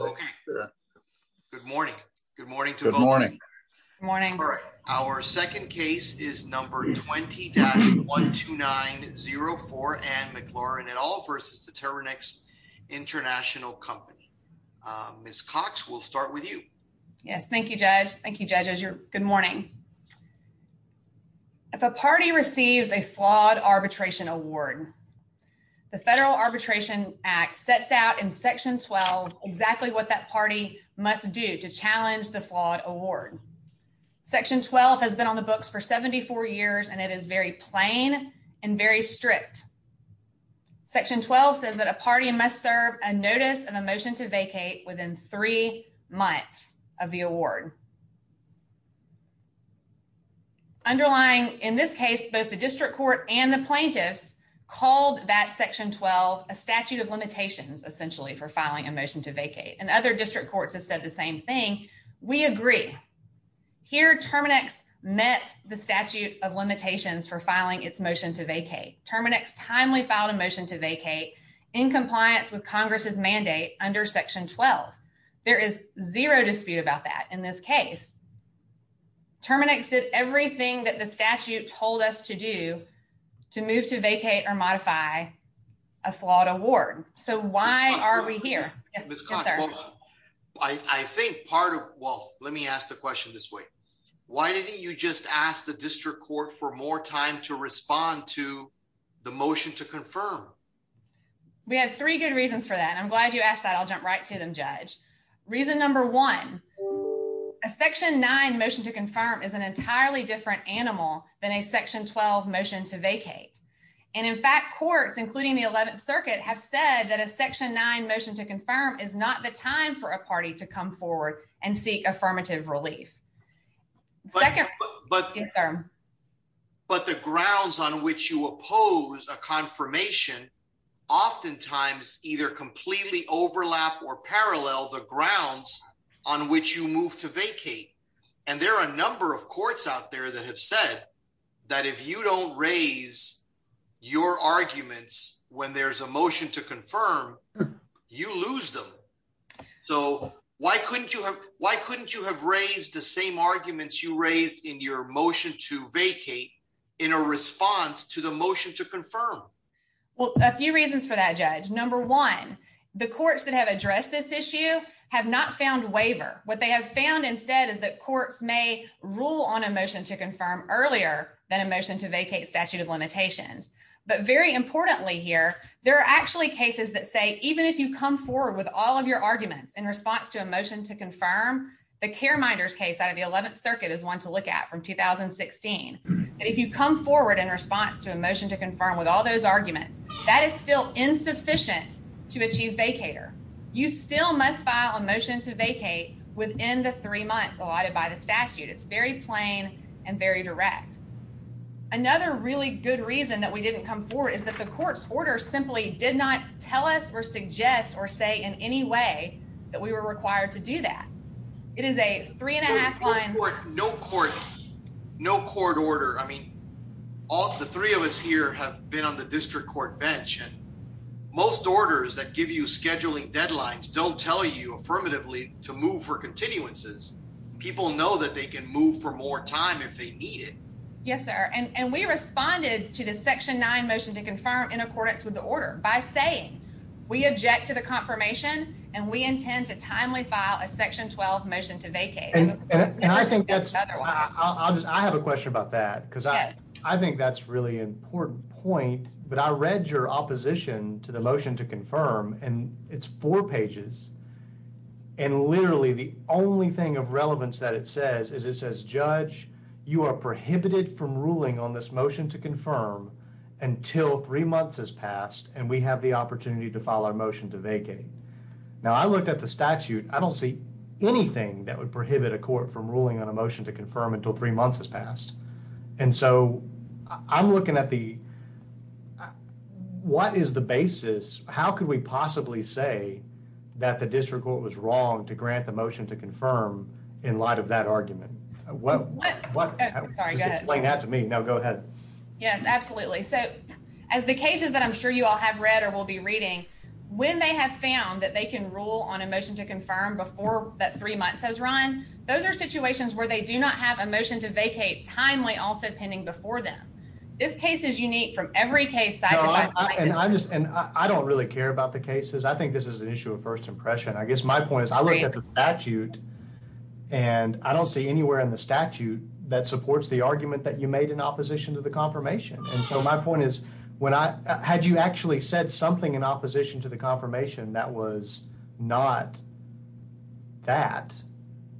Okay. Good morning. Good morning. Good morning. Good morning. All right. Our second case is number 20 dash 12904 and McLaurin at all versus the Terminix International Company. Miss Cox will start with you. Yes. Thank you, Judge. Thank you judges. You're good morning. If a party receives a flawed arbitration award, the Federal Arbitration Act sets out in Section 12 exactly what that party must do to challenge the flawed award. Section 12 has been on the books for 74 years and it is very plain and very strict. Section 12 says that a party must serve a notice of a motion to vacate within three months of the award. Underlying in this case, both the district court and the plaintiffs called that Section 12 a statute of limitations essentially for filing a motion to vacate and other district courts have said the same thing. We agree. Here Terminix met the statute of limitations for filing its motion to vacate Terminix timely filed a motion to vacate in compliance with Congress's mandate under Section 12. There is zero dispute about that in this case. Terminix did everything that the statute told us to do to move to vacate or modify a flawed award. So why are we here? I think part of well, let me ask the question this way. Why didn't you just ask the district court for more time to respond to the motion to confirm? We had three good reasons for that. I'm glad you asked that. I'll jump right to them, Judge. Reason number one, a Section 9 motion to confirm is an entirely different animal than a Section 12 motion to vacate. And in fact, courts, including the 11th Circuit, have said that a Section 9 motion to confirm is not the time for a party to come forward and seek affirmative relief. But the grounds on which you oppose a confirmation oftentimes either completely overlap or parallel the grounds on which you move to vacate. And there are a number of courts out there that have said that if you don't raise your arguments when there's a motion to confirm, you lose them. So why couldn't you have raised the same arguments you raised in your motion to vacate in a response to the motion to confirm? Well, a few reasons for that, Judge. Number one, the courts that have addressed this issue have not found waiver. What they have found instead is that courts may rule on a motion to confirm earlier than a motion to vacate statute of limitations. But very importantly here, there are actually cases that say even if you come forward with all of your arguments in response to a motion to confirm, the Careminders case out of the 11th Circuit is one to look at from 2016. And if you come forward in response to a motion to confirm with all those arguments, that is still insufficient to achieve vacator. You still must file a motion to vacate within the three months allotted by the statute. It's very plain and very direct. Another really good reason that we didn't come forward is that the court's order simply did not tell us or suggest or say in any way that we were required to do that. It is a three and a half line. No court order. I mean, all the three of us here have been on the district court bench. Most orders that give you scheduling deadlines don't tell you affirmatively to move for continuances. People know that they can move for more time if they need it. Yes, sir. And we responded to the Section 9 motion to confirm in accordance with the order by saying we object to the confirmation and we intend to timely file a Section 12 motion to vacate. I have a question about that because I think that's really an important point. But I read your opposition to the motion to confirm and it's four pages. And literally the only thing of relevance that it says is it says, Judge, you are prohibited from ruling on this motion to confirm until three months has passed and we have the opportunity to file our motion to vacate. Now, I looked at the statute. I don't see anything that would prohibit a court from ruling on a motion to confirm until three months has passed. And so I'm looking at the what is the basis? How could we possibly say that the district court was wrong to grant the motion to confirm in light of that argument? Sorry, go ahead. Explain that to me. No, go ahead. Yes, absolutely. So as the cases that I'm sure you all have read or will be reading, when they have found that they can rule on a motion to confirm before that three months has run, those are situations where they do not have a motion to vacate timely also pending before them. This case is unique from every case. And I don't really care about the cases. I think this is an issue of first impression. I guess my point is I look at the statute and I don't see anywhere in the statute that supports the argument that you made in opposition to the confirmation. And so my point is, had you actually said something in opposition to the confirmation that was not that,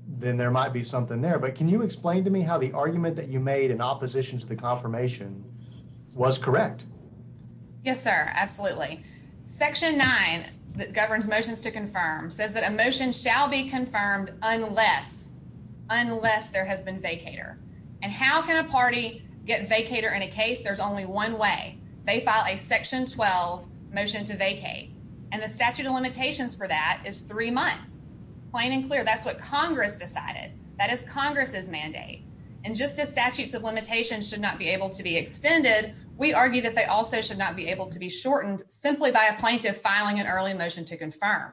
then there might be something there. But can you explain to me how the argument that you made in opposition to the confirmation was correct? Yes, sir. Absolutely. Section 9 that governs motions to confirm says that a motion shall be confirmed unless there has been vacator. And how can a party get vacator in a case? There's only one way. They file a Section 12 motion to vacate. And the statute of limitations for that is three months. Plain and clear. That's what Congress decided. That is Congress's mandate. And just as statutes of limitations should not be able to be extended, we argue that they also should not be able to be shortened simply by a plaintiff filing an early motion to confirm.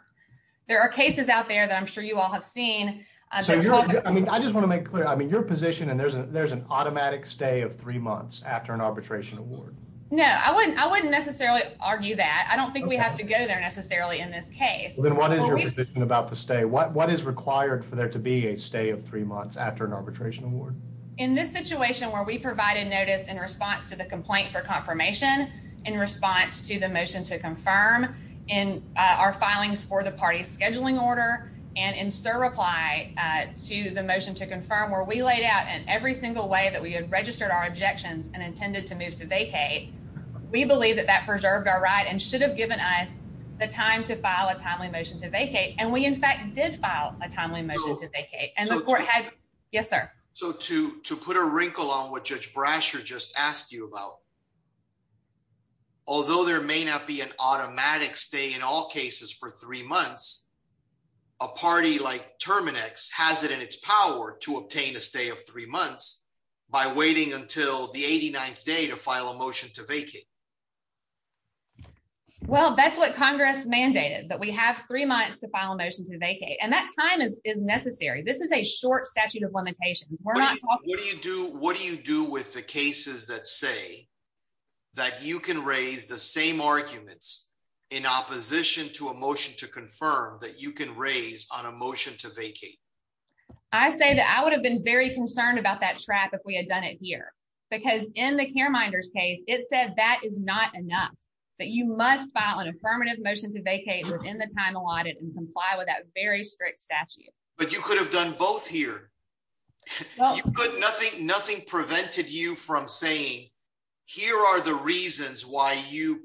There are cases out there that I'm sure you all have seen. I just want to make clear. I mean, your position and there's an automatic stay of three months after an arbitration award. No, I wouldn't. I wouldn't necessarily argue that. I don't think we have to go there necessarily in this case. Then what is your position about the stay? What is required for there to be a stay of three months after an arbitration award? In this situation where we provided notice in response to the complaint for confirmation, in response to the motion to confirm, in our filings for the party's scheduling order, and in Sir reply to the motion to confirm where we laid out in every single way that we had registered our objections and intended to move to vacate. We believe that that preserved our right and should have given us the time to file a timely motion to vacate. And we, in fact, did file a timely motion to vacate. And the court had. Yes, sir. So to to put a wrinkle on what Judge Brasher just asked you about. Although there may not be an automatic stay in all cases for three months, a party like Terminix has it in its power to obtain a stay of three months by waiting until the 89th day to file a motion to vacate. Well, that's what Congress mandated that we have three months to file a motion to vacate, and that time is is necessary. This is a short statute of limitations. We're not talking. What do you do? What do you do with the cases that say that you can raise the same arguments in opposition to a motion to confirm that you can raise on a motion to vacate? I say that I would have been very concerned about that trap if we had done it here, because in the careminders case, it said that is not enough, that you must file an affirmative motion to vacate within the time allotted and comply with that very strict statute. But you could have done both here, but nothing. Nothing prevented you from saying here are the reasons why you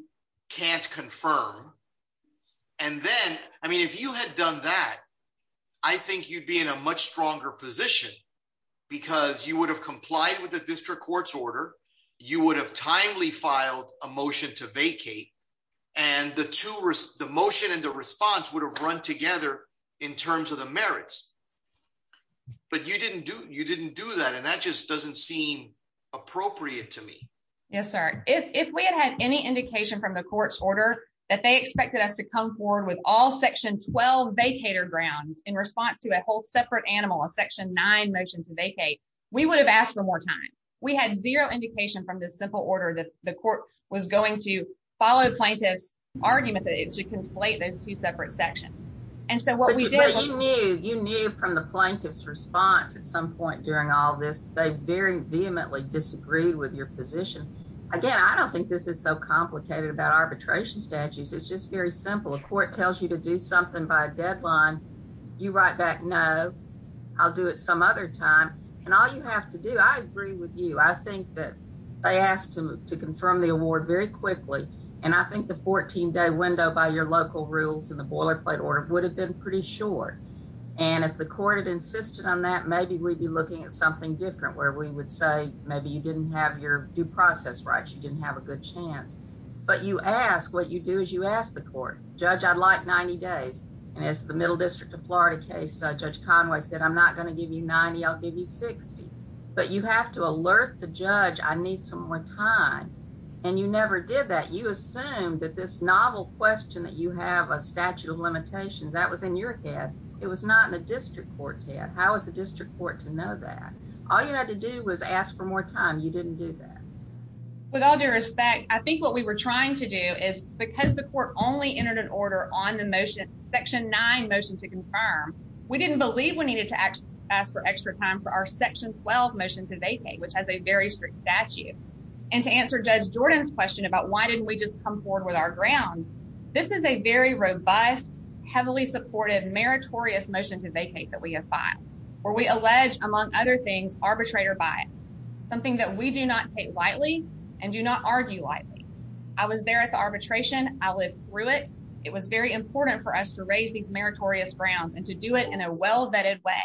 can't confirm. And then I mean, if you had done that, I think you'd be in a much stronger position because you would have complied with the district court's order. You would have timely filed a motion to vacate. And the two were the motion and the response would have run together in terms of the merits. But you didn't do you didn't do that. And that just doesn't seem appropriate to me. Yes, sir. If we had had any indication from the court's order that they expected us to come forward with all section 12 vacator grounds in response to a whole separate animal, a section nine motion to vacate, we would have asked for more time. We had zero indication from this simple order that the court was going to follow plaintiff's argument to conflate those two separate sections. You knew from the plaintiff's response at some point during all this, they very vehemently disagreed with your position. Again, I don't think this is so complicated about arbitration statutes. It's just very simple. A court tells you to do something by deadline. You write back. No, I'll do it some other time. And all you have to do. I agree with you. I think that they asked him to confirm the award very quickly. And I think the 14 day window by your local rules and the boilerplate order would have been pretty short. And if the court had insisted on that, maybe we'd be looking at something different where we would say maybe you didn't have your due process, right? You didn't have a good chance. But you ask what you do is you ask the court judge. I'd like 90 days. And as the Middle District of Florida case, Judge Conway said, I'm not going to give you 90. I'll give you 60. But you have to alert the judge. I need some more time. And you never did that. You assume that this novel question that you have a statute of limitations that was in your head. It was not in the district court's head. How is the district court to know that all you had to do was ask for more time? You didn't do that. With all due respect, I think what we were trying to do is because the court only entered an order on the motion, section nine motion to confirm. We didn't believe we needed to ask for extra time for our section 12 motion to vacate, which has a very strict statute. And to answer Judge Jordan's question about why didn't we just come forward with our grounds? This is a very robust, heavily supportive, meritorious motion to vacate that we have filed where we allege, among other things, arbitrator bias. Something that we do not take lightly and do not argue lightly. I was there at the arbitration. I lived through it. It was very important for us to raise these meritorious grounds and to do it in a well-vetted way.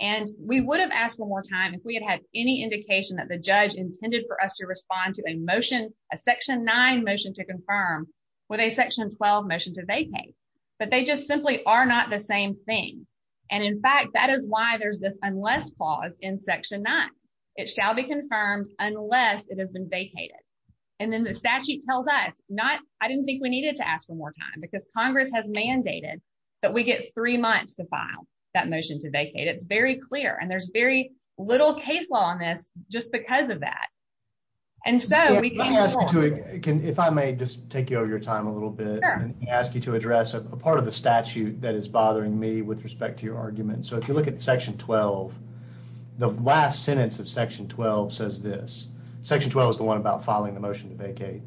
And we would have asked for more time if we had had any indication that the judge intended for us to respond to a motion, a section nine motion to confirm with a section 12 motion to vacate. But they just simply are not the same thing. And in fact, that is why there's this unless clause in section nine. It shall be confirmed unless it has been vacated. And then the statute tells us not. I didn't think we needed to ask for more time because Congress has mandated that we get three months to file that motion to vacate. It's very clear. And there's very little case law on this just because of that. And so we can ask you to if I may just take your time a little bit and ask you to address a part of the statute that is bothering me with respect to your argument. So if you look at section 12, the last sentence of section 12 says this section 12 is the one about filing the motion to vacate.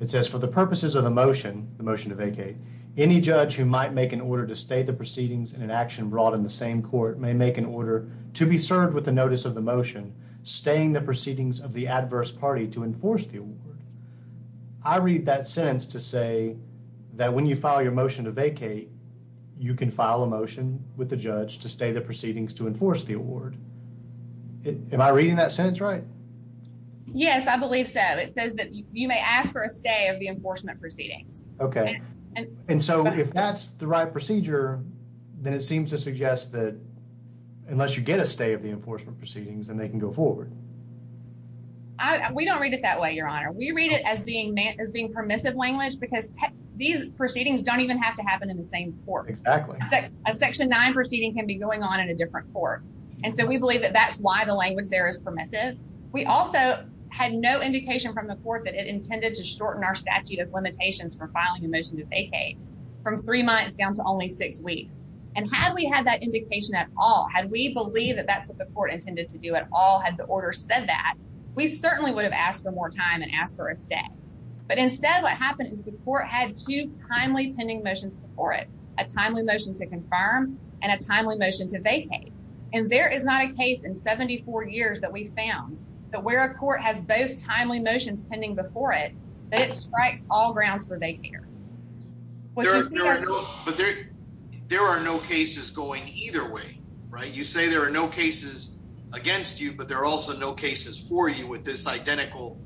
It says for the purposes of a motion, the motion to vacate any judge who might make an order to state the proceedings in an action brought in the same court may make an order to be served with the notice of the motion. Staying the proceedings of the adverse party to enforce the award. I read that sentence to say that when you file your motion to vacate, you can file a motion with the judge to stay the proceedings to enforce the award. Am I reading that sentence right? Yes, I believe so. It says that you may ask for a stay of the enforcement proceedings. OK. And so if that's the right procedure, then it seems to suggest that unless you get a stay of the enforcement proceedings and they can go forward. We don't read it that way, Your Honor. We read it as being meant as being permissive language because these proceedings don't even have to happen in the same court. Exactly. A section nine proceeding can be going on in a different court. And so we believe that that's why the language there is permissive. We also had no indication from the court that it intended to shorten our statute of limitations for filing a motion to vacate from three months down to only six weeks. And had we had that indication at all, had we believe that that's what the court intended to do at all, had the order said that, we certainly would have asked for more time and asked for a stay. But instead, what happened is the court had two timely pending motions before it, a timely motion to confirm and a timely motion to vacate. And there is not a case in 74 years that we found that where a court has both timely motions pending before it, that it strikes all grounds for vacating. But there are no cases going either way, right? You say there are no cases against you, but there are also no cases for you with this identical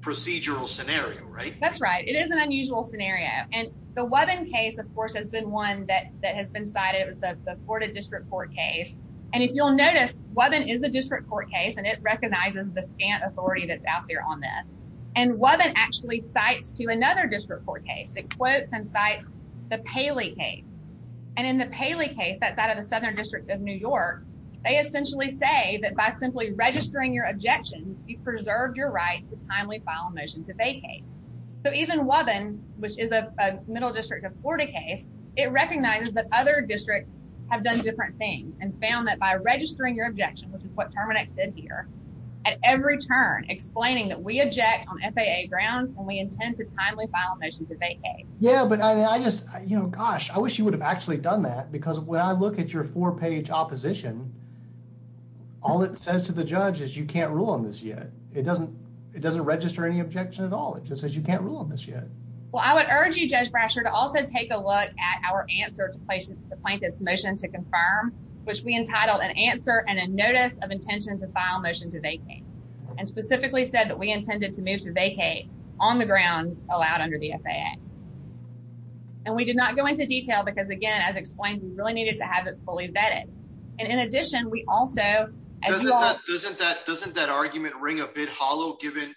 procedural scenario, right? That's right. It is an unusual scenario. And the case, of course, has been one that has been cited. It was the Florida District Court case. And if you'll notice, Wubbin is a district court case, and it recognizes the scant authority that's out there on this. And Wubbin actually cites to another district court case that quotes and cites the Paley case. And in the Paley case, that's out of the Southern District of New York, they essentially say that by simply registering your objections, you've preserved your right to timely file a motion to vacate. So even Wubbin, which is a middle district of Florida case, it recognizes that other districts have done different things and found that by registering your objection, which is what Terminex did here, at every turn explaining that we object on FAA grounds and we intend to timely file a motion to vacate. Yeah, but I just, you know, gosh, I wish you would have actually done that because when I look at your four-page opposition, all it says to the judge is you can't rule on this yet. It doesn't register any objection at all. It just says you can't rule on this yet. Well, I would urge you, Judge Brasher, to also take a look at our answer to the plaintiff's motion to confirm, which we entitled an answer and a notice of intention to file motion to vacate. And specifically said that we intended to move to vacate on the grounds allowed under the FAA. And we did not go into detail because, again, as explained, we really needed to have it fully vetted. And in addition, we also… Doesn't that argument ring a bit hollow given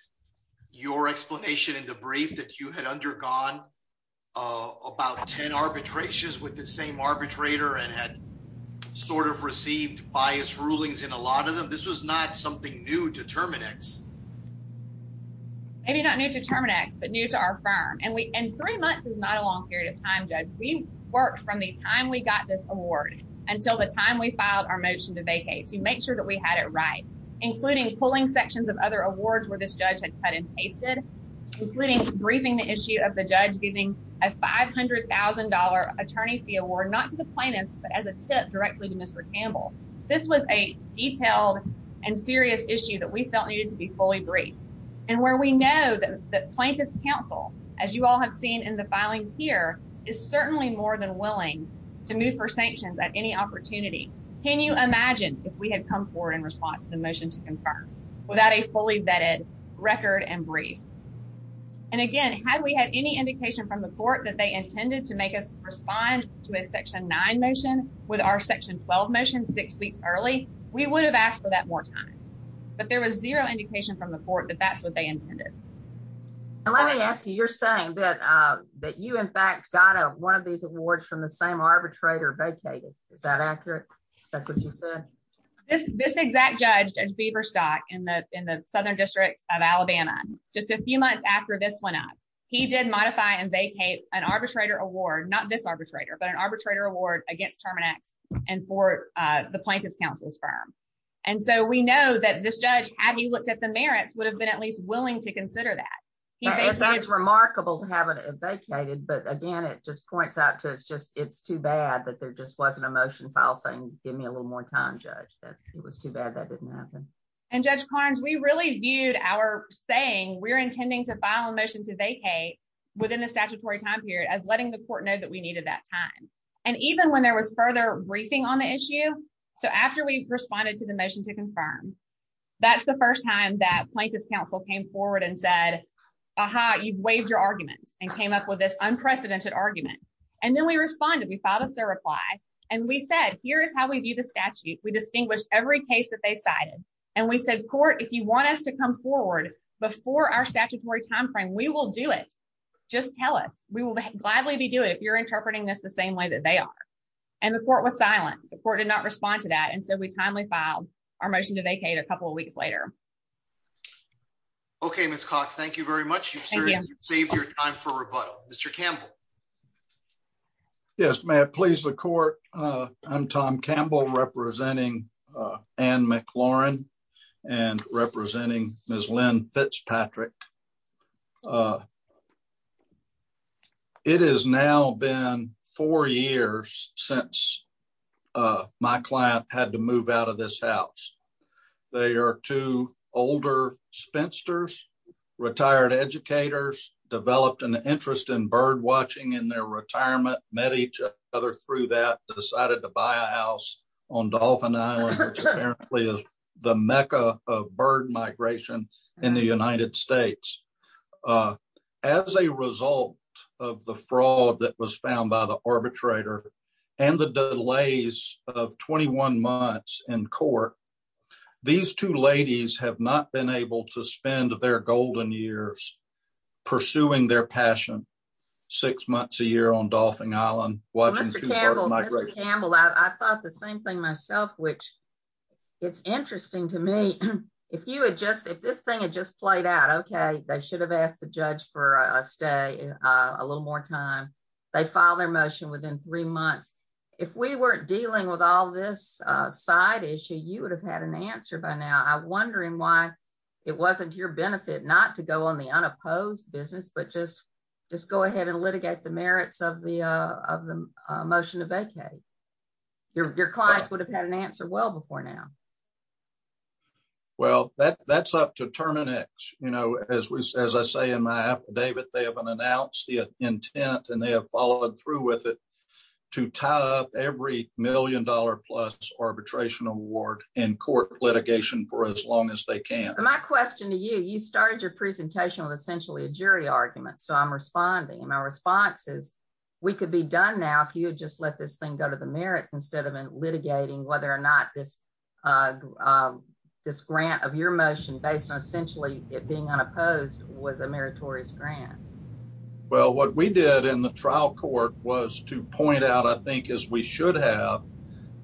your explanation in the brief that you had undergone about 10 arbitrations with the same arbitrator and had sort of received biased rulings in a lot of them? This was not something new to Terminex. Maybe not new to Terminex, but new to our firm. And three months is not a long period of time, Judge. We worked from the time we got this award until the time we filed our motion to vacate to make sure that we had it right, including pulling sections of other awards where this judge had cut and pasted, including briefing the issue of the judge giving a $500,000 attorney fee award not to the plaintiff but as a tip directly to Mr. Campbell. This was a detailed and serious issue that we felt needed to be fully briefed. And where we know that plaintiff's counsel, as you all have seen in the filings here, is certainly more than willing to move for sanctions at any opportunity. Can you imagine if we had come forward in response to the motion to confirm without a fully vetted record and brief? And, again, had we had any indication from the court that they intended to make us respond to a Section 9 motion with our Section 12 motion six weeks early, we would have asked for that more time. But there was zero indication from the court that that's what they intended. And let me ask you, you're saying that you, in fact, got one of these awards from the same arbitrator vacated. Is that accurate? That's what you said? This exact judge, Judge Beaverstock, in the Southern District of Alabama, just a few months after this went up, he did modify and vacate an arbitrator award, not this arbitrator, but an arbitrator award against Terminex and for the plaintiff's counsel's firm. And so we know that this judge, had he looked at the merits, would have been at least willing to consider that. That's remarkable to have it vacated. But, again, it just points out to us just it's too bad that there just wasn't a motion filed saying give me a little more time, Judge, that it was too bad that didn't happen. And, Judge Carnes, we really viewed our saying we're intending to file a motion to vacate within the statutory time period as letting the court know that we needed that time. And even when there was further briefing on the issue, so after we responded to the motion to confirm, that's the first time that plaintiff's counsel came forward and said, aha, you've waived your arguments and came up with this unprecedented argument. And then we responded, we filed us a reply. And we said, here is how we view the statute. We distinguished every case that they cited. And we said, court, if you want us to come forward before our statutory timeframe, we will do it. Just tell us. We will gladly be doing it if you're interpreting this the same way that they are. And the court was silent. The court did not respond to that. And so we timely filed our motion to vacate a couple of weeks later. Okay, Miss Cox, thank you very much. You've saved your time for rebuttal. Mr. Campbell. Yes, may I please the court. I'm Tom Campbell representing and McLaurin and representing Miss Lynn Fitzpatrick. It is now been four years since my client had to move out of this house. They are two older spinsters, retired educators, developed an interest in birdwatching in their retirement, met each other through that, decided to buy a house on Dolphin Island, which apparently is the Mecca of bird migration in the United States. As a result of the fraud that was found by the arbitrator, and the delays of 21 months in court. These two ladies have not been able to spend their golden years, pursuing their passion, six months a year on Dolphin Island. Mr. Campbell, I thought the same thing myself, which it's interesting to me. If you had just if this thing had just played out, okay, they should have asked the judge for a stay a little more time. They file their motion within three months. If we weren't dealing with all this side issue you would have had an answer by now I wondering why it wasn't your benefit not to go on the unopposed business but just just go ahead and litigate the merits of the of the motion to vacate your clients would have had an answer well before now. Well, that that's up to terminix, you know, as we say, as I say in my affidavit they haven't announced the intent and they have followed through with it to tie up every million dollar plus arbitration award in court litigation for as long as they can. My question to you, you started your presentation with essentially a jury argument so I'm responding and my response is, we could be done now if you just let this thing go to the merits instead of in litigating whether or not this this grant of your motion based on essentially it being unopposed was a meritorious grant. Well, what we did in the trial court was to point out, I think, is we should have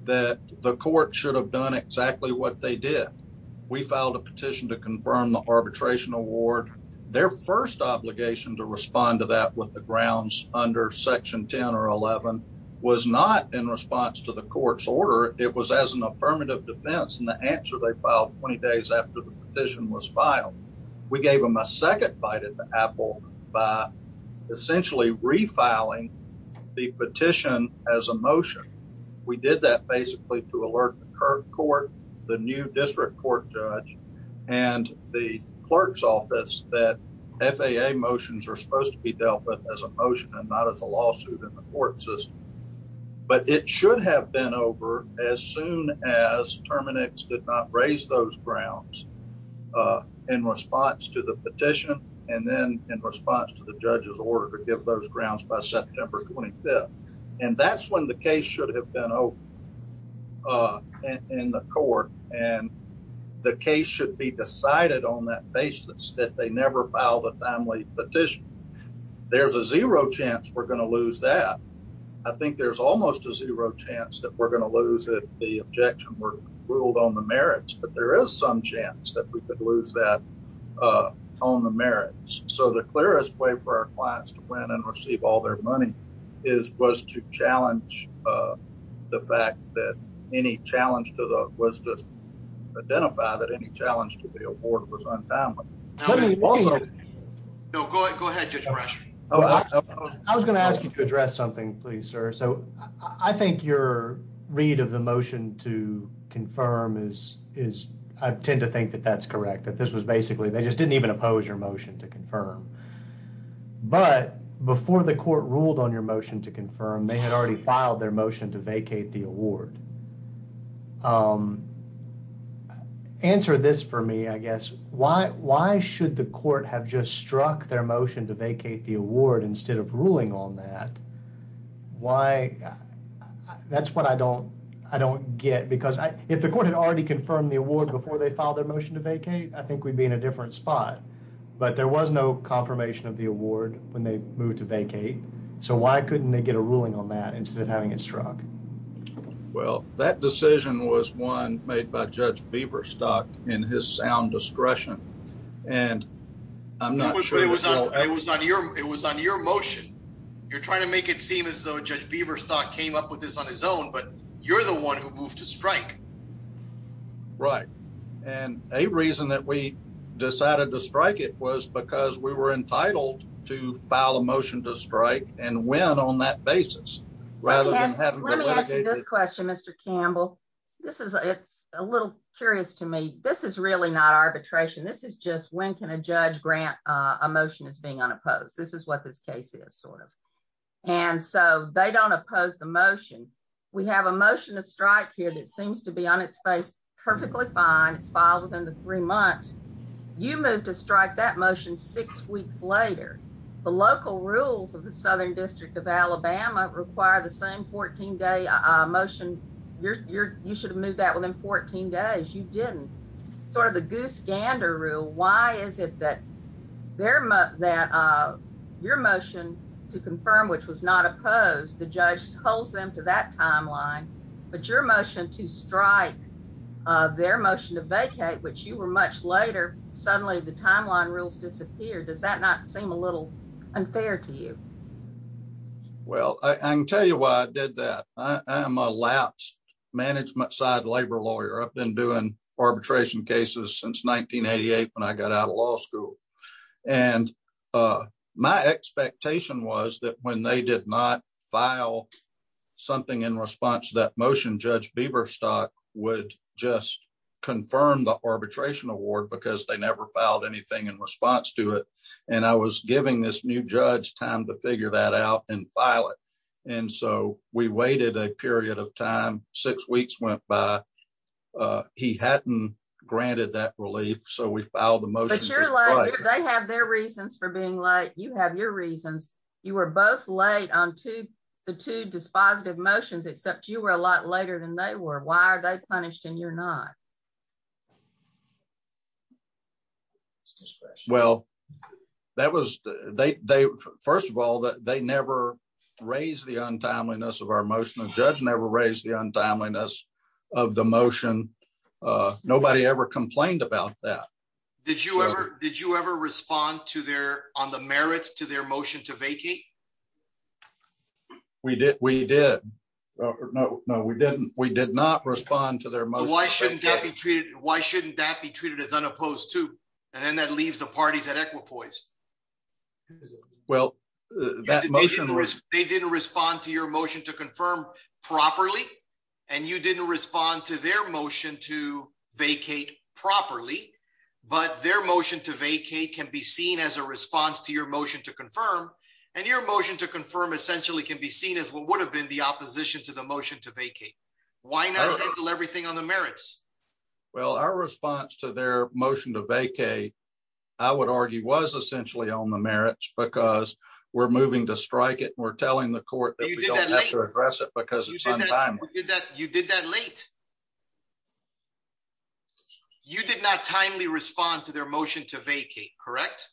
that the court should have done exactly what they did. We filed a petition to confirm the arbitration award their first obligation to respond to that with the grounds under section 10 or 11 was not in response to the court's order. It was as an affirmative defense and the answer they filed 20 days after the petition was filed. We gave him a second bite at the apple by essentially refiling the petition as a motion. We did that basically to alert the court, the new district court judge and the clerk's office that FAA motions are supposed to be dealt with as a motion and not as a lawsuit in the court system. But it should have been over as soon as Terminix did not raise those grounds in response to the petition and then in response to the judge's order to give those grounds by September 25th. And that's when the case should have been open in the court and the case should be decided on that basis that they never filed a timely petition. There's a zero chance we're going to lose that. I think there's almost a zero chance that we're going to lose it. The objection were ruled on the merits, but there is some chance that we could lose that on the merits. So the clearest way for our clients to win and receive all their money is was to challenge the fact that any challenge to the was to identify that any challenge to the award was untimely. No, go ahead. I was going to ask you to address something, please, sir. So I think your read of the motion to confirm is is I tend to think that that's correct, that this was basically they just didn't even oppose your motion to confirm. But before the court ruled on your motion to confirm they had already filed their motion to vacate the award. Answer this for me, I guess. Why why should the court have just struck their motion to vacate the award instead of ruling on that? Why? That's what I don't I don't get because if the court had already confirmed the award before they filed their motion to vacate, I think we'd be in a different spot. But there was no confirmation of the award when they moved to vacate. So why couldn't they get a ruling on that instead of having it struck? Well, that decision was one made by Judge Beaverstock in his sound discretion, and I'm not sure it was on your it was on your motion. You're trying to make it seem as though Judge Beaverstock came up with this on his own, but you're the one who moved to strike. Right. And a reason that we decided to strike it was because we were entitled to file a motion to strike and win on that basis. Rather than let me ask you this question, Mr. Campbell. This is it's a little curious to me. This is really not arbitration. This is just when can a judge grant a motion as being unopposed? This is what this case is sort of. And so they don't oppose the motion. We have a motion to strike here that seems to be on its face perfectly fine. It's filed within the three months. You moved to strike that motion six weeks later. The local rules of the Southern District of Alabama require the same 14 day motion. You should have moved that within 14 days. You didn't sort of the goose gander rule. Why is it that they're that your motion to confirm, which was not opposed, the judge holds them to that timeline. But your motion to strike their motion to vacate, which you were much later. Suddenly the timeline rules disappeared. Does that not seem a little unfair to you? Well, I can tell you why I did that. I am a lapse management side labor lawyer. I've been doing arbitration cases since 1988 when I got out of law school. And my expectation was that when they did not file something in response to that motion, Judge Beaverstock would just confirm the arbitration award because they never filed anything in response to it. And I was giving this new judge time to figure that out and file it. And so we waited a period of time. Six weeks went by. He hadn't granted that relief. So we filed the motion. They have their reasons for being like you have your reasons. You were both late on to the two dispositive motions, except you were a lot later than they were. Why are they punished and you're not? Well, that was they first of all that they never raised the untimeliness of our motion and judge never raised the untimeliness of the motion. Nobody ever complained about that. Did you ever did you ever respond to their on the merits to their motion to vacate. We did. We did. No, no, we didn't. We did not respond to their motion. Why shouldn't that be treated. Why shouldn't that be treated as unopposed to. And then that leaves the parties at Equipoise. Well, that motion was they didn't respond to your motion to confirm properly. And you didn't respond to their motion to vacate properly, but their motion to vacate can be seen as a response to your motion to confirm and your motion to confirm essentially can be seen as what would have been the opposition to the motion to vacate. Why not do everything on the merits. Well, our response to their motion to vacate. I would argue was essentially on the merits because we're moving to strike it we're telling the court to address it because you did that late. You did not timely respond to their motion to vacate correct.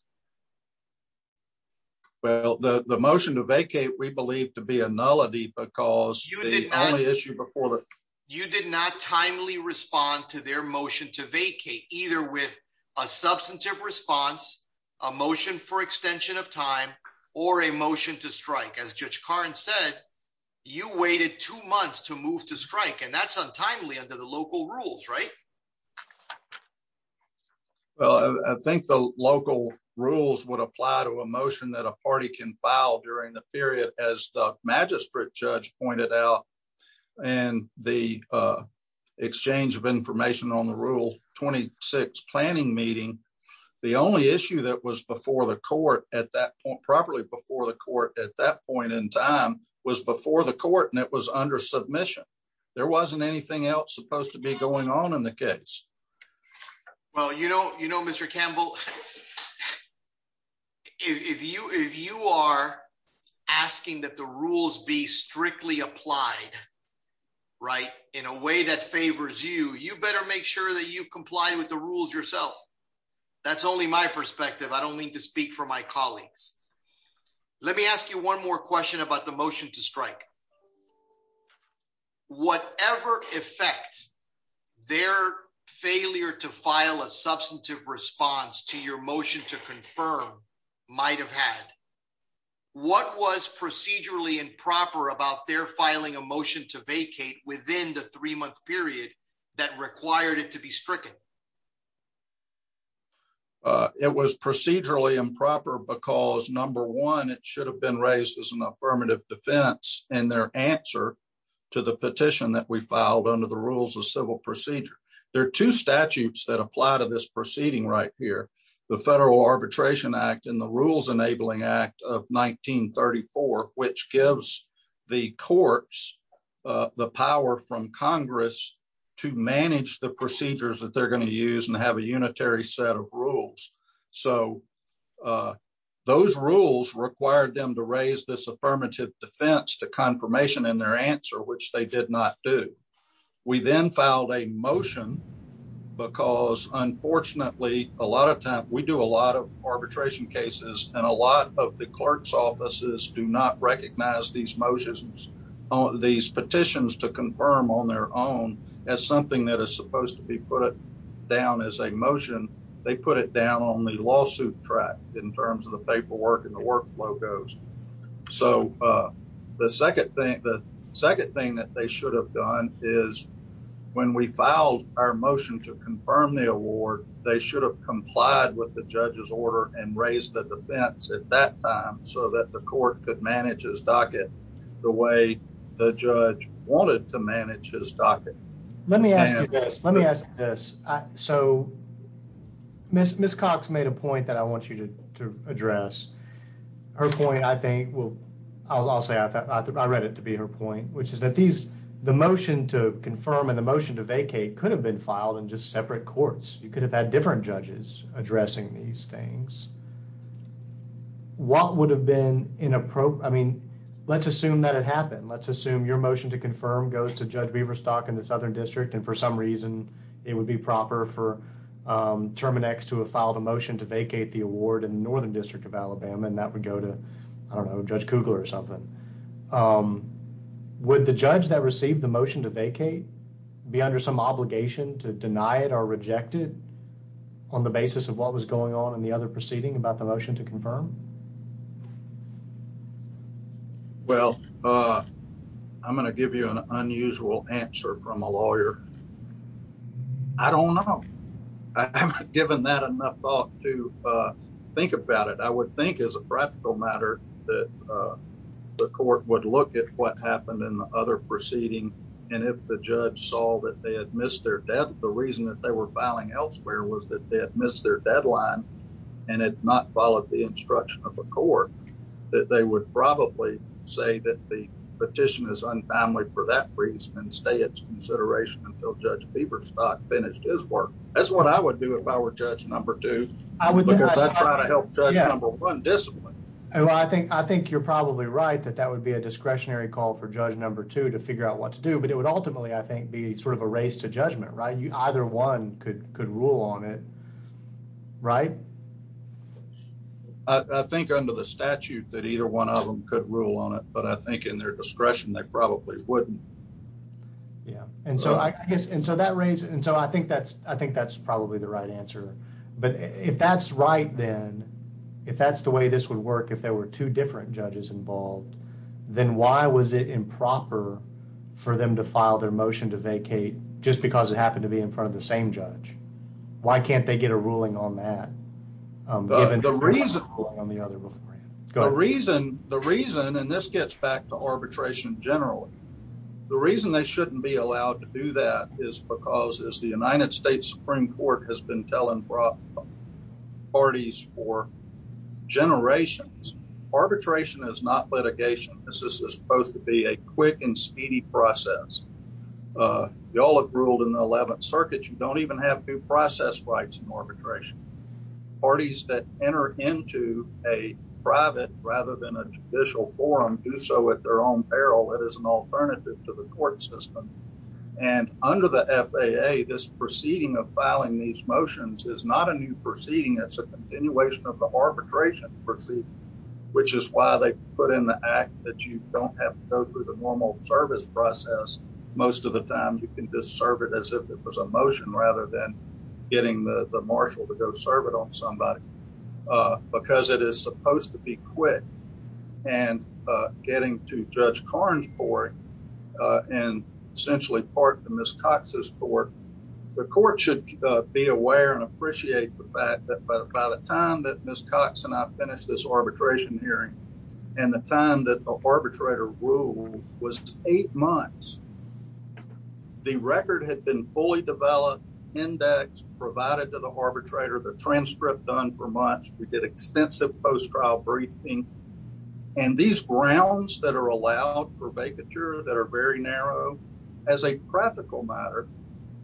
Well, the motion to vacate we believe to be a nullity because you did not issue before that you did not timely respond to their motion to vacate, either with a substantive response, a motion for extension of time, or a motion to strike as Well, I think the local rules would apply to a motion that a party can file during the period as the magistrate judge pointed out, and the exchange of information on the rule 26 planning meeting. The only issue that was before the court at that point properly before the court at that point in time was before the court and it was under submission. There wasn't anything else supposed to be going on in the case. Well, you know, you know, Mr. Campbell, if you if you are asking that the rules be strictly applied right in a way that favors you, you better make sure that you comply with the rules yourself. That's only my perspective. I don't mean to speak for my colleagues. Let me ask you one more question about the motion to strike. Whatever effect, their failure to file a substantive response to your motion to confirm might have had what was procedurally improper about their filing a motion to vacate within the three month period that required it to be stricken. It was procedurally improper because number one, it should have been raised as an affirmative defense, and their answer to the petition that we filed under the rules of civil procedure. There are two statutes that apply to this proceeding right here, the Federal Arbitration Act and the Rules Enabling Act of 1934, which gives the courts, the power from Congress to manage the procedures that they're going to use and have a unitary set of rules. So those rules required them to raise this affirmative defense to confirmation in their answer, which they did not do. We then filed a motion because unfortunately, a lot of times we do a lot of arbitration cases and a lot of the clerk's offices do not recognize these motions, these petitions to confirm on their own as something that is supposed to be put down as a motion. They put it down on the lawsuit track in terms of the paperwork and the workflow goes. So the second thing that they should have done is when we filed our motion to confirm the award, they should have complied with the judge's order and raised the defense at that time so that the court could manage his docket the way the judge wanted to manage his docket. Let me ask you this. Let me ask this. So Miss Cox made a point that I want you to address. Her point, I think, well, I'll say I read it to be her point, which is that the motion to confirm and the motion to vacate could have been filed in just separate courts. You could have had different judges addressing these things. What would have been inappropriate? I mean, let's assume that it happened. Let's assume your motion to confirm goes to Judge Beaverstock in the Southern District. And for some reason, it would be proper for Terminex to have filed a motion to vacate the award in the Northern District of Alabama. And that would go to, I don't know, Judge Kugler or something. Would the judge that received the motion to vacate be under some obligation to deny it or reject it on the basis of what was going on in the other proceeding about the motion to confirm? Well, I'm going to give you an unusual answer from a lawyer. I don't know. I haven't given that enough thought to think about it. I would think, as a practical matter, that the court would look at what happened in the other proceeding. And if the judge saw that they had missed their deadline, the reason that they were filing elsewhere was that they had missed their deadline and had not followed the instruction of the court, that they would probably say that the petition is untimely for that reason and stay its consideration until Judge Beaverstock finished his work. That's what I would do if I were Judge No. 2. I would try to help Judge No. 1 discipline. I think you're probably right that that would be a discretionary call for Judge No. 2 to figure out what to do. But it would ultimately, I think, be sort of a race to judgment, right? Either one could rule on it, right? I think under the statute that either one of them could rule on it. But I think in their discretion, they probably wouldn't. I think that's probably the right answer. But if that's right then, if that's the way this would work if there were two different judges involved, then why was it improper for them to file their motion to vacate just because it happened to be in front of the same judge? Why can't they get a ruling on that? The reason, and this gets back to arbitration generally, the reason they shouldn't be allowed to do that is because as the United States Supreme Court has been telling parties for generations, arbitration is not litigation. This is supposed to be a quick and speedy process. Y'all have ruled in the 11th Circuit. You don't even have due process rights in arbitration. Parties that enter into a private rather than a judicial forum do so at their own peril. It is an alternative to the court system. And under the FAA, this proceeding of filing these motions is not a new proceeding. It's a continuation of the arbitration proceeding, which is why they put in the act that you don't have to go through the normal service process. Most of the time, you can just serve it as if it was a motion rather than getting the marshal to go serve it on somebody, because it is supposed to be quick. And getting to Judge Karn's court and essentially part of Ms. Cox's court, the court should be aware and appreciate the fact that by the time that Ms. Cox and I finished this arbitration hearing and the time that the arbitrator ruled was eight months. The record had been fully developed, indexed, provided to the arbitrator, the transcript done for months. We did extensive post-trial briefing. And these grounds that are allowed for vacature that are very narrow as a practical matter,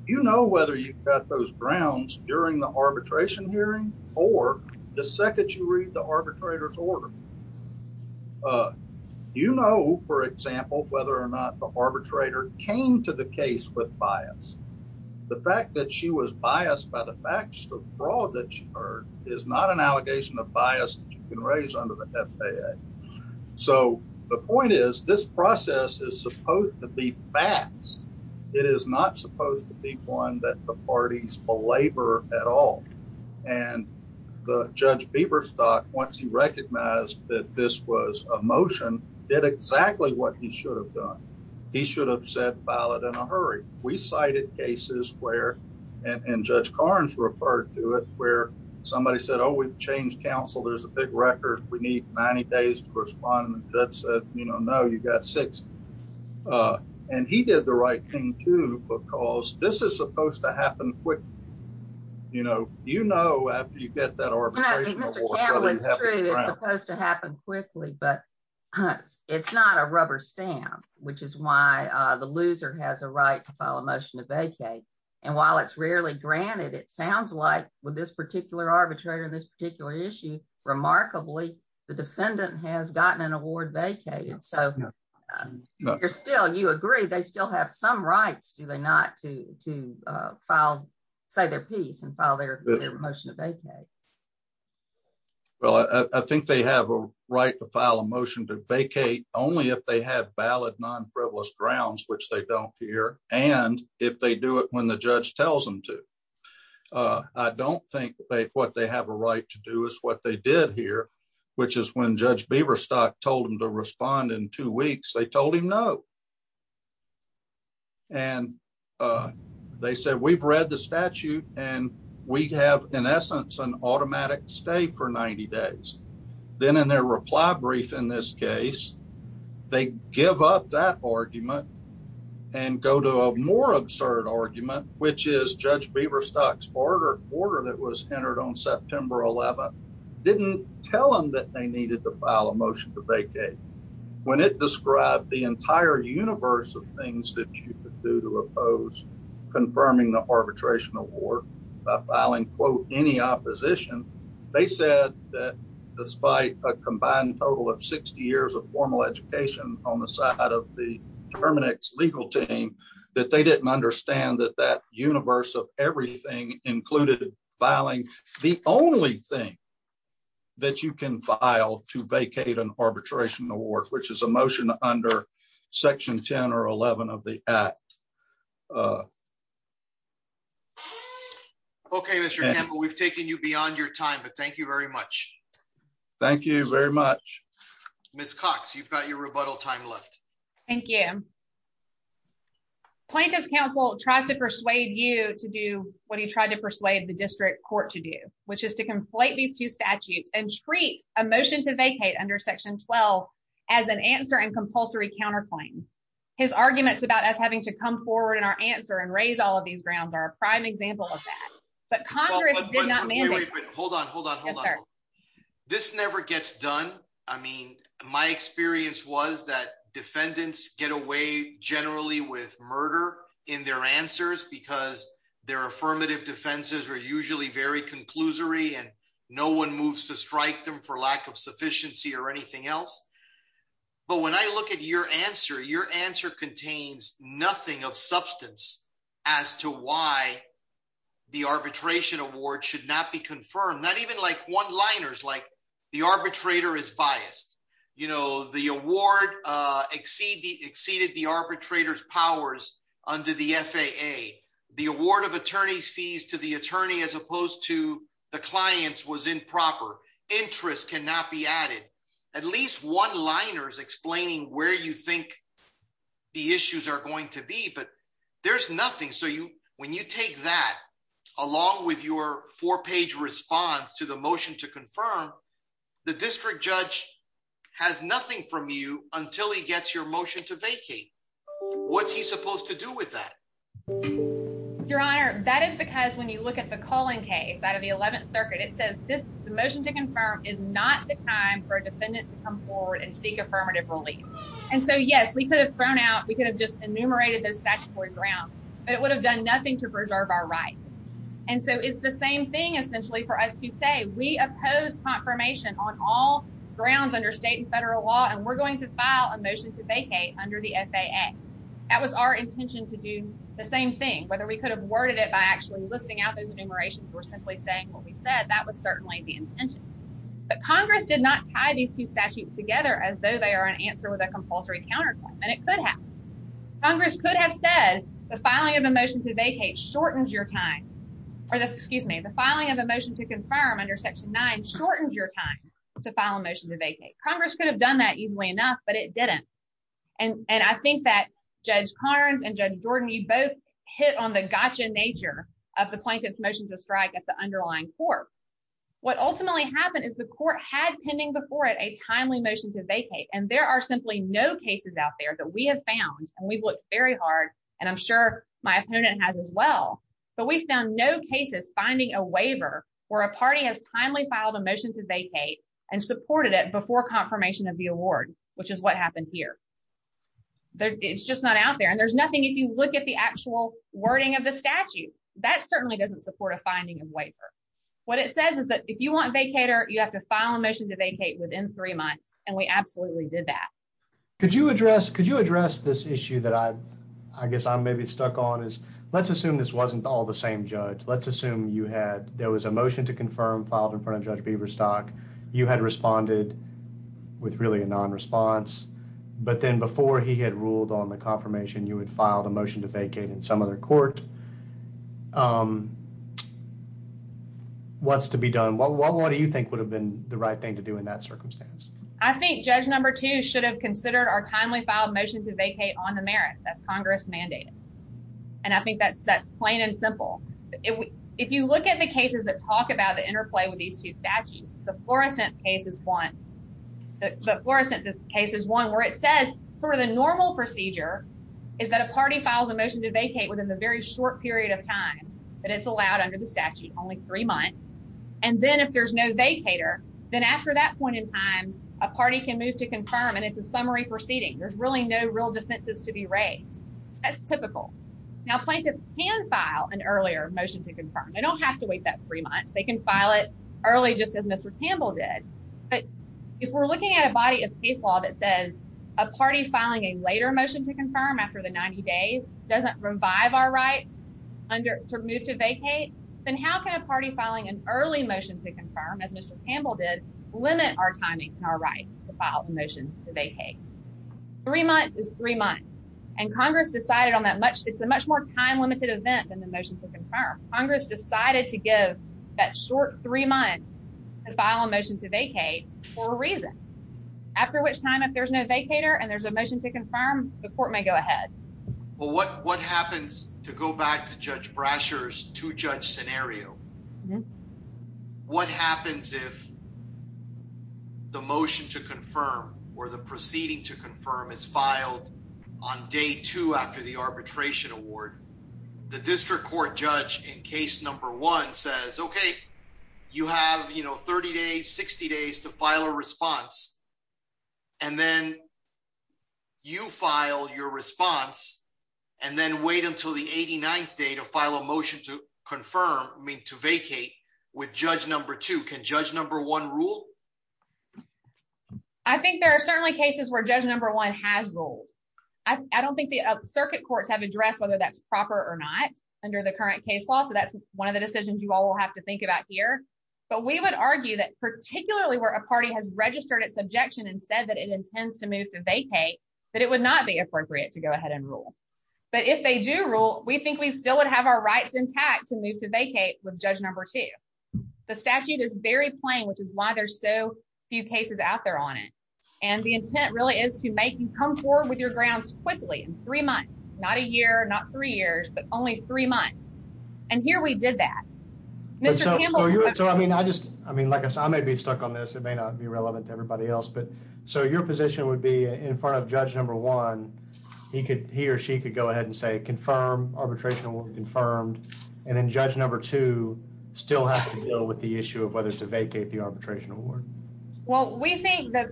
you know whether you've got those grounds during the arbitration hearing or the second you read the arbitrator's order. You know, for example, whether or not the arbitrator came to the case with bias. The fact that she was biased by the facts of fraud that she heard is not an allegation of bias that you can raise under the FAA. So the point is this process is supposed to be fast. It is not supposed to be one that the parties belabor at all. And Judge Bieberstock, once he recognized that this was a motion, did exactly what he should have done. He should have said file it in a hurry. We cited cases where, and Judge Carnes referred to it, where somebody said, oh, we've changed counsel. There's a big record. We need 90 days to respond. And the judge said, you know, no, you've got six. And he did the right thing, too, because this is supposed to happen quick. You know, you know, after you get that arbitration. It's supposed to happen quickly, but it's not a rubber stamp, which is why the loser has a right to file a motion to vacate. And while it's rarely granted, it sounds like with this particular arbitrator in this particular issue. Remarkably, the defendant has gotten an award vacated. So you're still you agree they still have some rights, do they not to to file, say their piece and file their motion to vacate? Well, I think they have a right to file a motion to vacate only if they have valid non-frivolous grounds, which they don't fear. And if they do it when the judge tells them to, I don't think what they have a right to do is what they did here, which is when Judge Beaverstock told him to respond in two weeks, they told him no. And they said, we've read the statute and we have, in essence, an automatic stay for 90 days. Then in their reply brief, in this case, they give up that argument and go to a more absurd argument, which is Judge Beaverstock's order order that was entered on September 11th, didn't tell him that they needed to file a motion to vacate. When it described the entire universe of things that you could do to oppose confirming the arbitration award filing, quote, any opposition. They said that despite a combined total of 60 years of formal education on the side of the Terminix legal team, that they didn't understand that that universe of everything included filing the only thing. That you can file to vacate an arbitration award, which is a motion under Section 10 or 11 of the act. OK, Mr. Campbell, we've taken you beyond your time, but thank you very much. Thank you very much. Miss Cox, you've got your rebuttal time left. Thank you. Plaintiff's counsel tries to persuade you to do what he tried to persuade the district court to do, which is to conflate these two statutes and treat a motion to vacate under Section 12 as an answer and compulsory counterclaim. His arguments about us having to come forward in our answer and raise all of these grounds are a prime example of that. But Congress did not hold on. Hold on. Hold on. This never gets done. I mean, my experience was that defendants get away generally with murder in their answers because their affirmative defenses are usually very conclusory and no one moves to strike them for lack of sufficiency or anything else. But when I look at your answer, your answer contains nothing of substance as to why the arbitration award should not be confirmed. Not even like one liners like the arbitrator is biased. You know, the award exceed the exceeded the arbitrator's powers under the FAA. The award of attorneys fees to the attorney as opposed to the clients was improper. Interest cannot be added. At least one liners explaining where you think the issues are going to be. But there's nothing. So you when you take that along with your four page response to the motion to confirm the district judge has nothing from you until he gets your motion to vacate. What's he supposed to do with that? Your Honor, that is because when you look at the calling case out of the 11th Circuit, it says this motion to confirm is not the time for a defendant to come forward and seek affirmative relief. And so, yes, we could have thrown out. We could have just enumerated those statutory grounds, but it would have done nothing to preserve our rights. And so it's the same thing, essentially, for us to say we oppose confirmation on all grounds under state and federal law. And we're going to file a motion to vacate under the FAA. That was our intention to do the same thing. Whether we could have worded it by actually listing out those enumerations or simply saying what we said, that was certainly the intention. But Congress did not tie these two statutes together as though they are an answer with a compulsory counterclaim. And it could have Congress could have said the filing of a motion to vacate shortens your time. Excuse me, the filing of a motion to confirm under Section 9 shortened your time to file a motion to vacate. Congress could have done that easily enough, but it didn't. And I think that Judge Carnes and Judge Jordan, you both hit on the gotcha nature of the plaintiff's motion to strike at the underlying court. What ultimately happened is the court had pending before it a timely motion to vacate. And there are simply no cases out there that we have found. And we've looked very hard. And I'm sure my opponent has as well. But we found no cases finding a waiver where a party has timely filed a motion to vacate and supported it before confirmation of the award, which is what happened here. It's just not out there. And there's nothing if you look at the actual wording of the statute, that certainly doesn't support a finding of waiver. What it says is that if you want vacator, you have to file a motion to vacate within three months. And we absolutely did that. Could you address could you address this issue that I guess I'm maybe stuck on is let's assume this wasn't all the same judge. Let's assume you had there was a motion to confirm filed in front of Judge Beaverstock. You had responded with really a non response. But then before he had ruled on the confirmation, you had filed a motion to vacate in some other court. What's to be done? What do you think would have been the right thing to do in that circumstance? I think Judge number two should have considered our timely filed motion to vacate on the merits as Congress mandated. And I think that's that's plain and simple. If you look at the cases that talk about the interplay with these two statutes, the fluorescent case is one. Where it says sort of the normal procedure is that a party files a motion to vacate within the very short period of time that it's allowed under the statute. Only three months. And then if there's no vacator, then after that point in time, a party can move to confirm. And it's a summary proceeding. There's really no real defenses to be raised. That's typical. Now, plaintiff can file an earlier motion to confirm. I don't have to wait that three months. They can file it early, just as Mr. Campbell did. But if we're looking at a body of case law that says a party filing a later motion to confirm after the 90 days doesn't revive our rights to move to vacate, then how can a party filing an early motion to confirm, as Mr. Campbell did, limit our timing and our rights to file a motion to vacate? Three months is three months. And Congress decided on that much. It's a much more time limited event than the motion to confirm. Congress decided to give that short three months to file a motion to vacate for a reason. After which time, if there's no vacator and there's a motion to confirm, the court may go ahead. Well, what what happens to go back to Judge Brasher's to judge scenario? What happens if the motion to confirm or the proceeding to confirm is filed on day two after the arbitration award? The district court judge in case number one says, OK, you have, you know, 30 days, 60 days to file a response. And then you file your response and then wait until the 89th day to file a motion to confirm to vacate with Judge number two. Can Judge number one rule? I think there are certainly cases where Judge number one has ruled. I don't think the circuit courts have addressed whether that's proper or not under the current case law. So that's one of the decisions you all will have to think about here. But we would argue that particularly where a party has registered its objection and said that it intends to move to vacate, that it would not be appropriate to go ahead and rule. But if they do rule, we think we still would have our rights intact to move to vacate with Judge number two. The statute is very plain, which is why there's so few cases out there on it. And the intent really is to make you come forward with your grounds quickly in three months, not a year, not three years, but only three months. And here we did that. Mr. So, I mean, I just I mean, like I said, I may be stuck on this. It may not be relevant to everybody else. But so your position would be in front of Judge number one. He could he or she could go ahead and say confirm arbitration confirmed. And then Judge number two still has to deal with the issue of whether to vacate the arbitration award. Well, we think that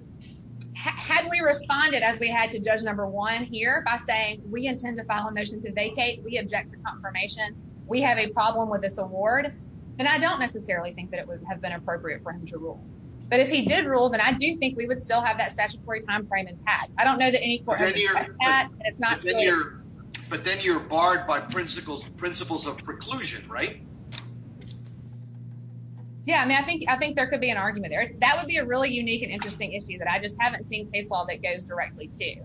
had we responded as we had to judge number one here by saying we intend to file a motion to vacate, we object to confirmation. We have a problem with this award. And I don't necessarily think that it would have been appropriate for him to rule. But if he did rule that, I do think we would still have that statutory time frame intact. I don't know that any court. It's not clear. But then you're barred by principles, principles of preclusion, right? Yeah, I mean, I think I think there could be an argument there. That would be a really unique and interesting issue that I just haven't seen case law that goes directly to.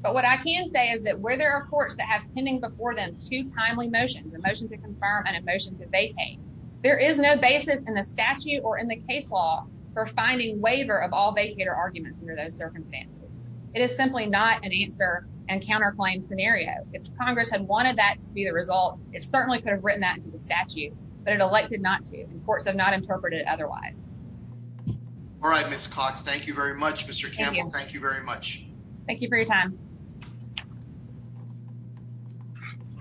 But what I can say is that where there are courts that have pending before them two timely motions, a motion to confirm and a motion to vacate, there is no basis in the statute or in the case law for finding waiver of all vacator arguments under those circumstances. It is simply not an answer and counterclaim scenario. If Congress had wanted that to be the result, it certainly could have written that to the statute. But it elected not to. Courts have not interpreted it otherwise. All right, Miss Cox. Thank you very much, Mr. Campbell. Thank you very much. Thank you for your time.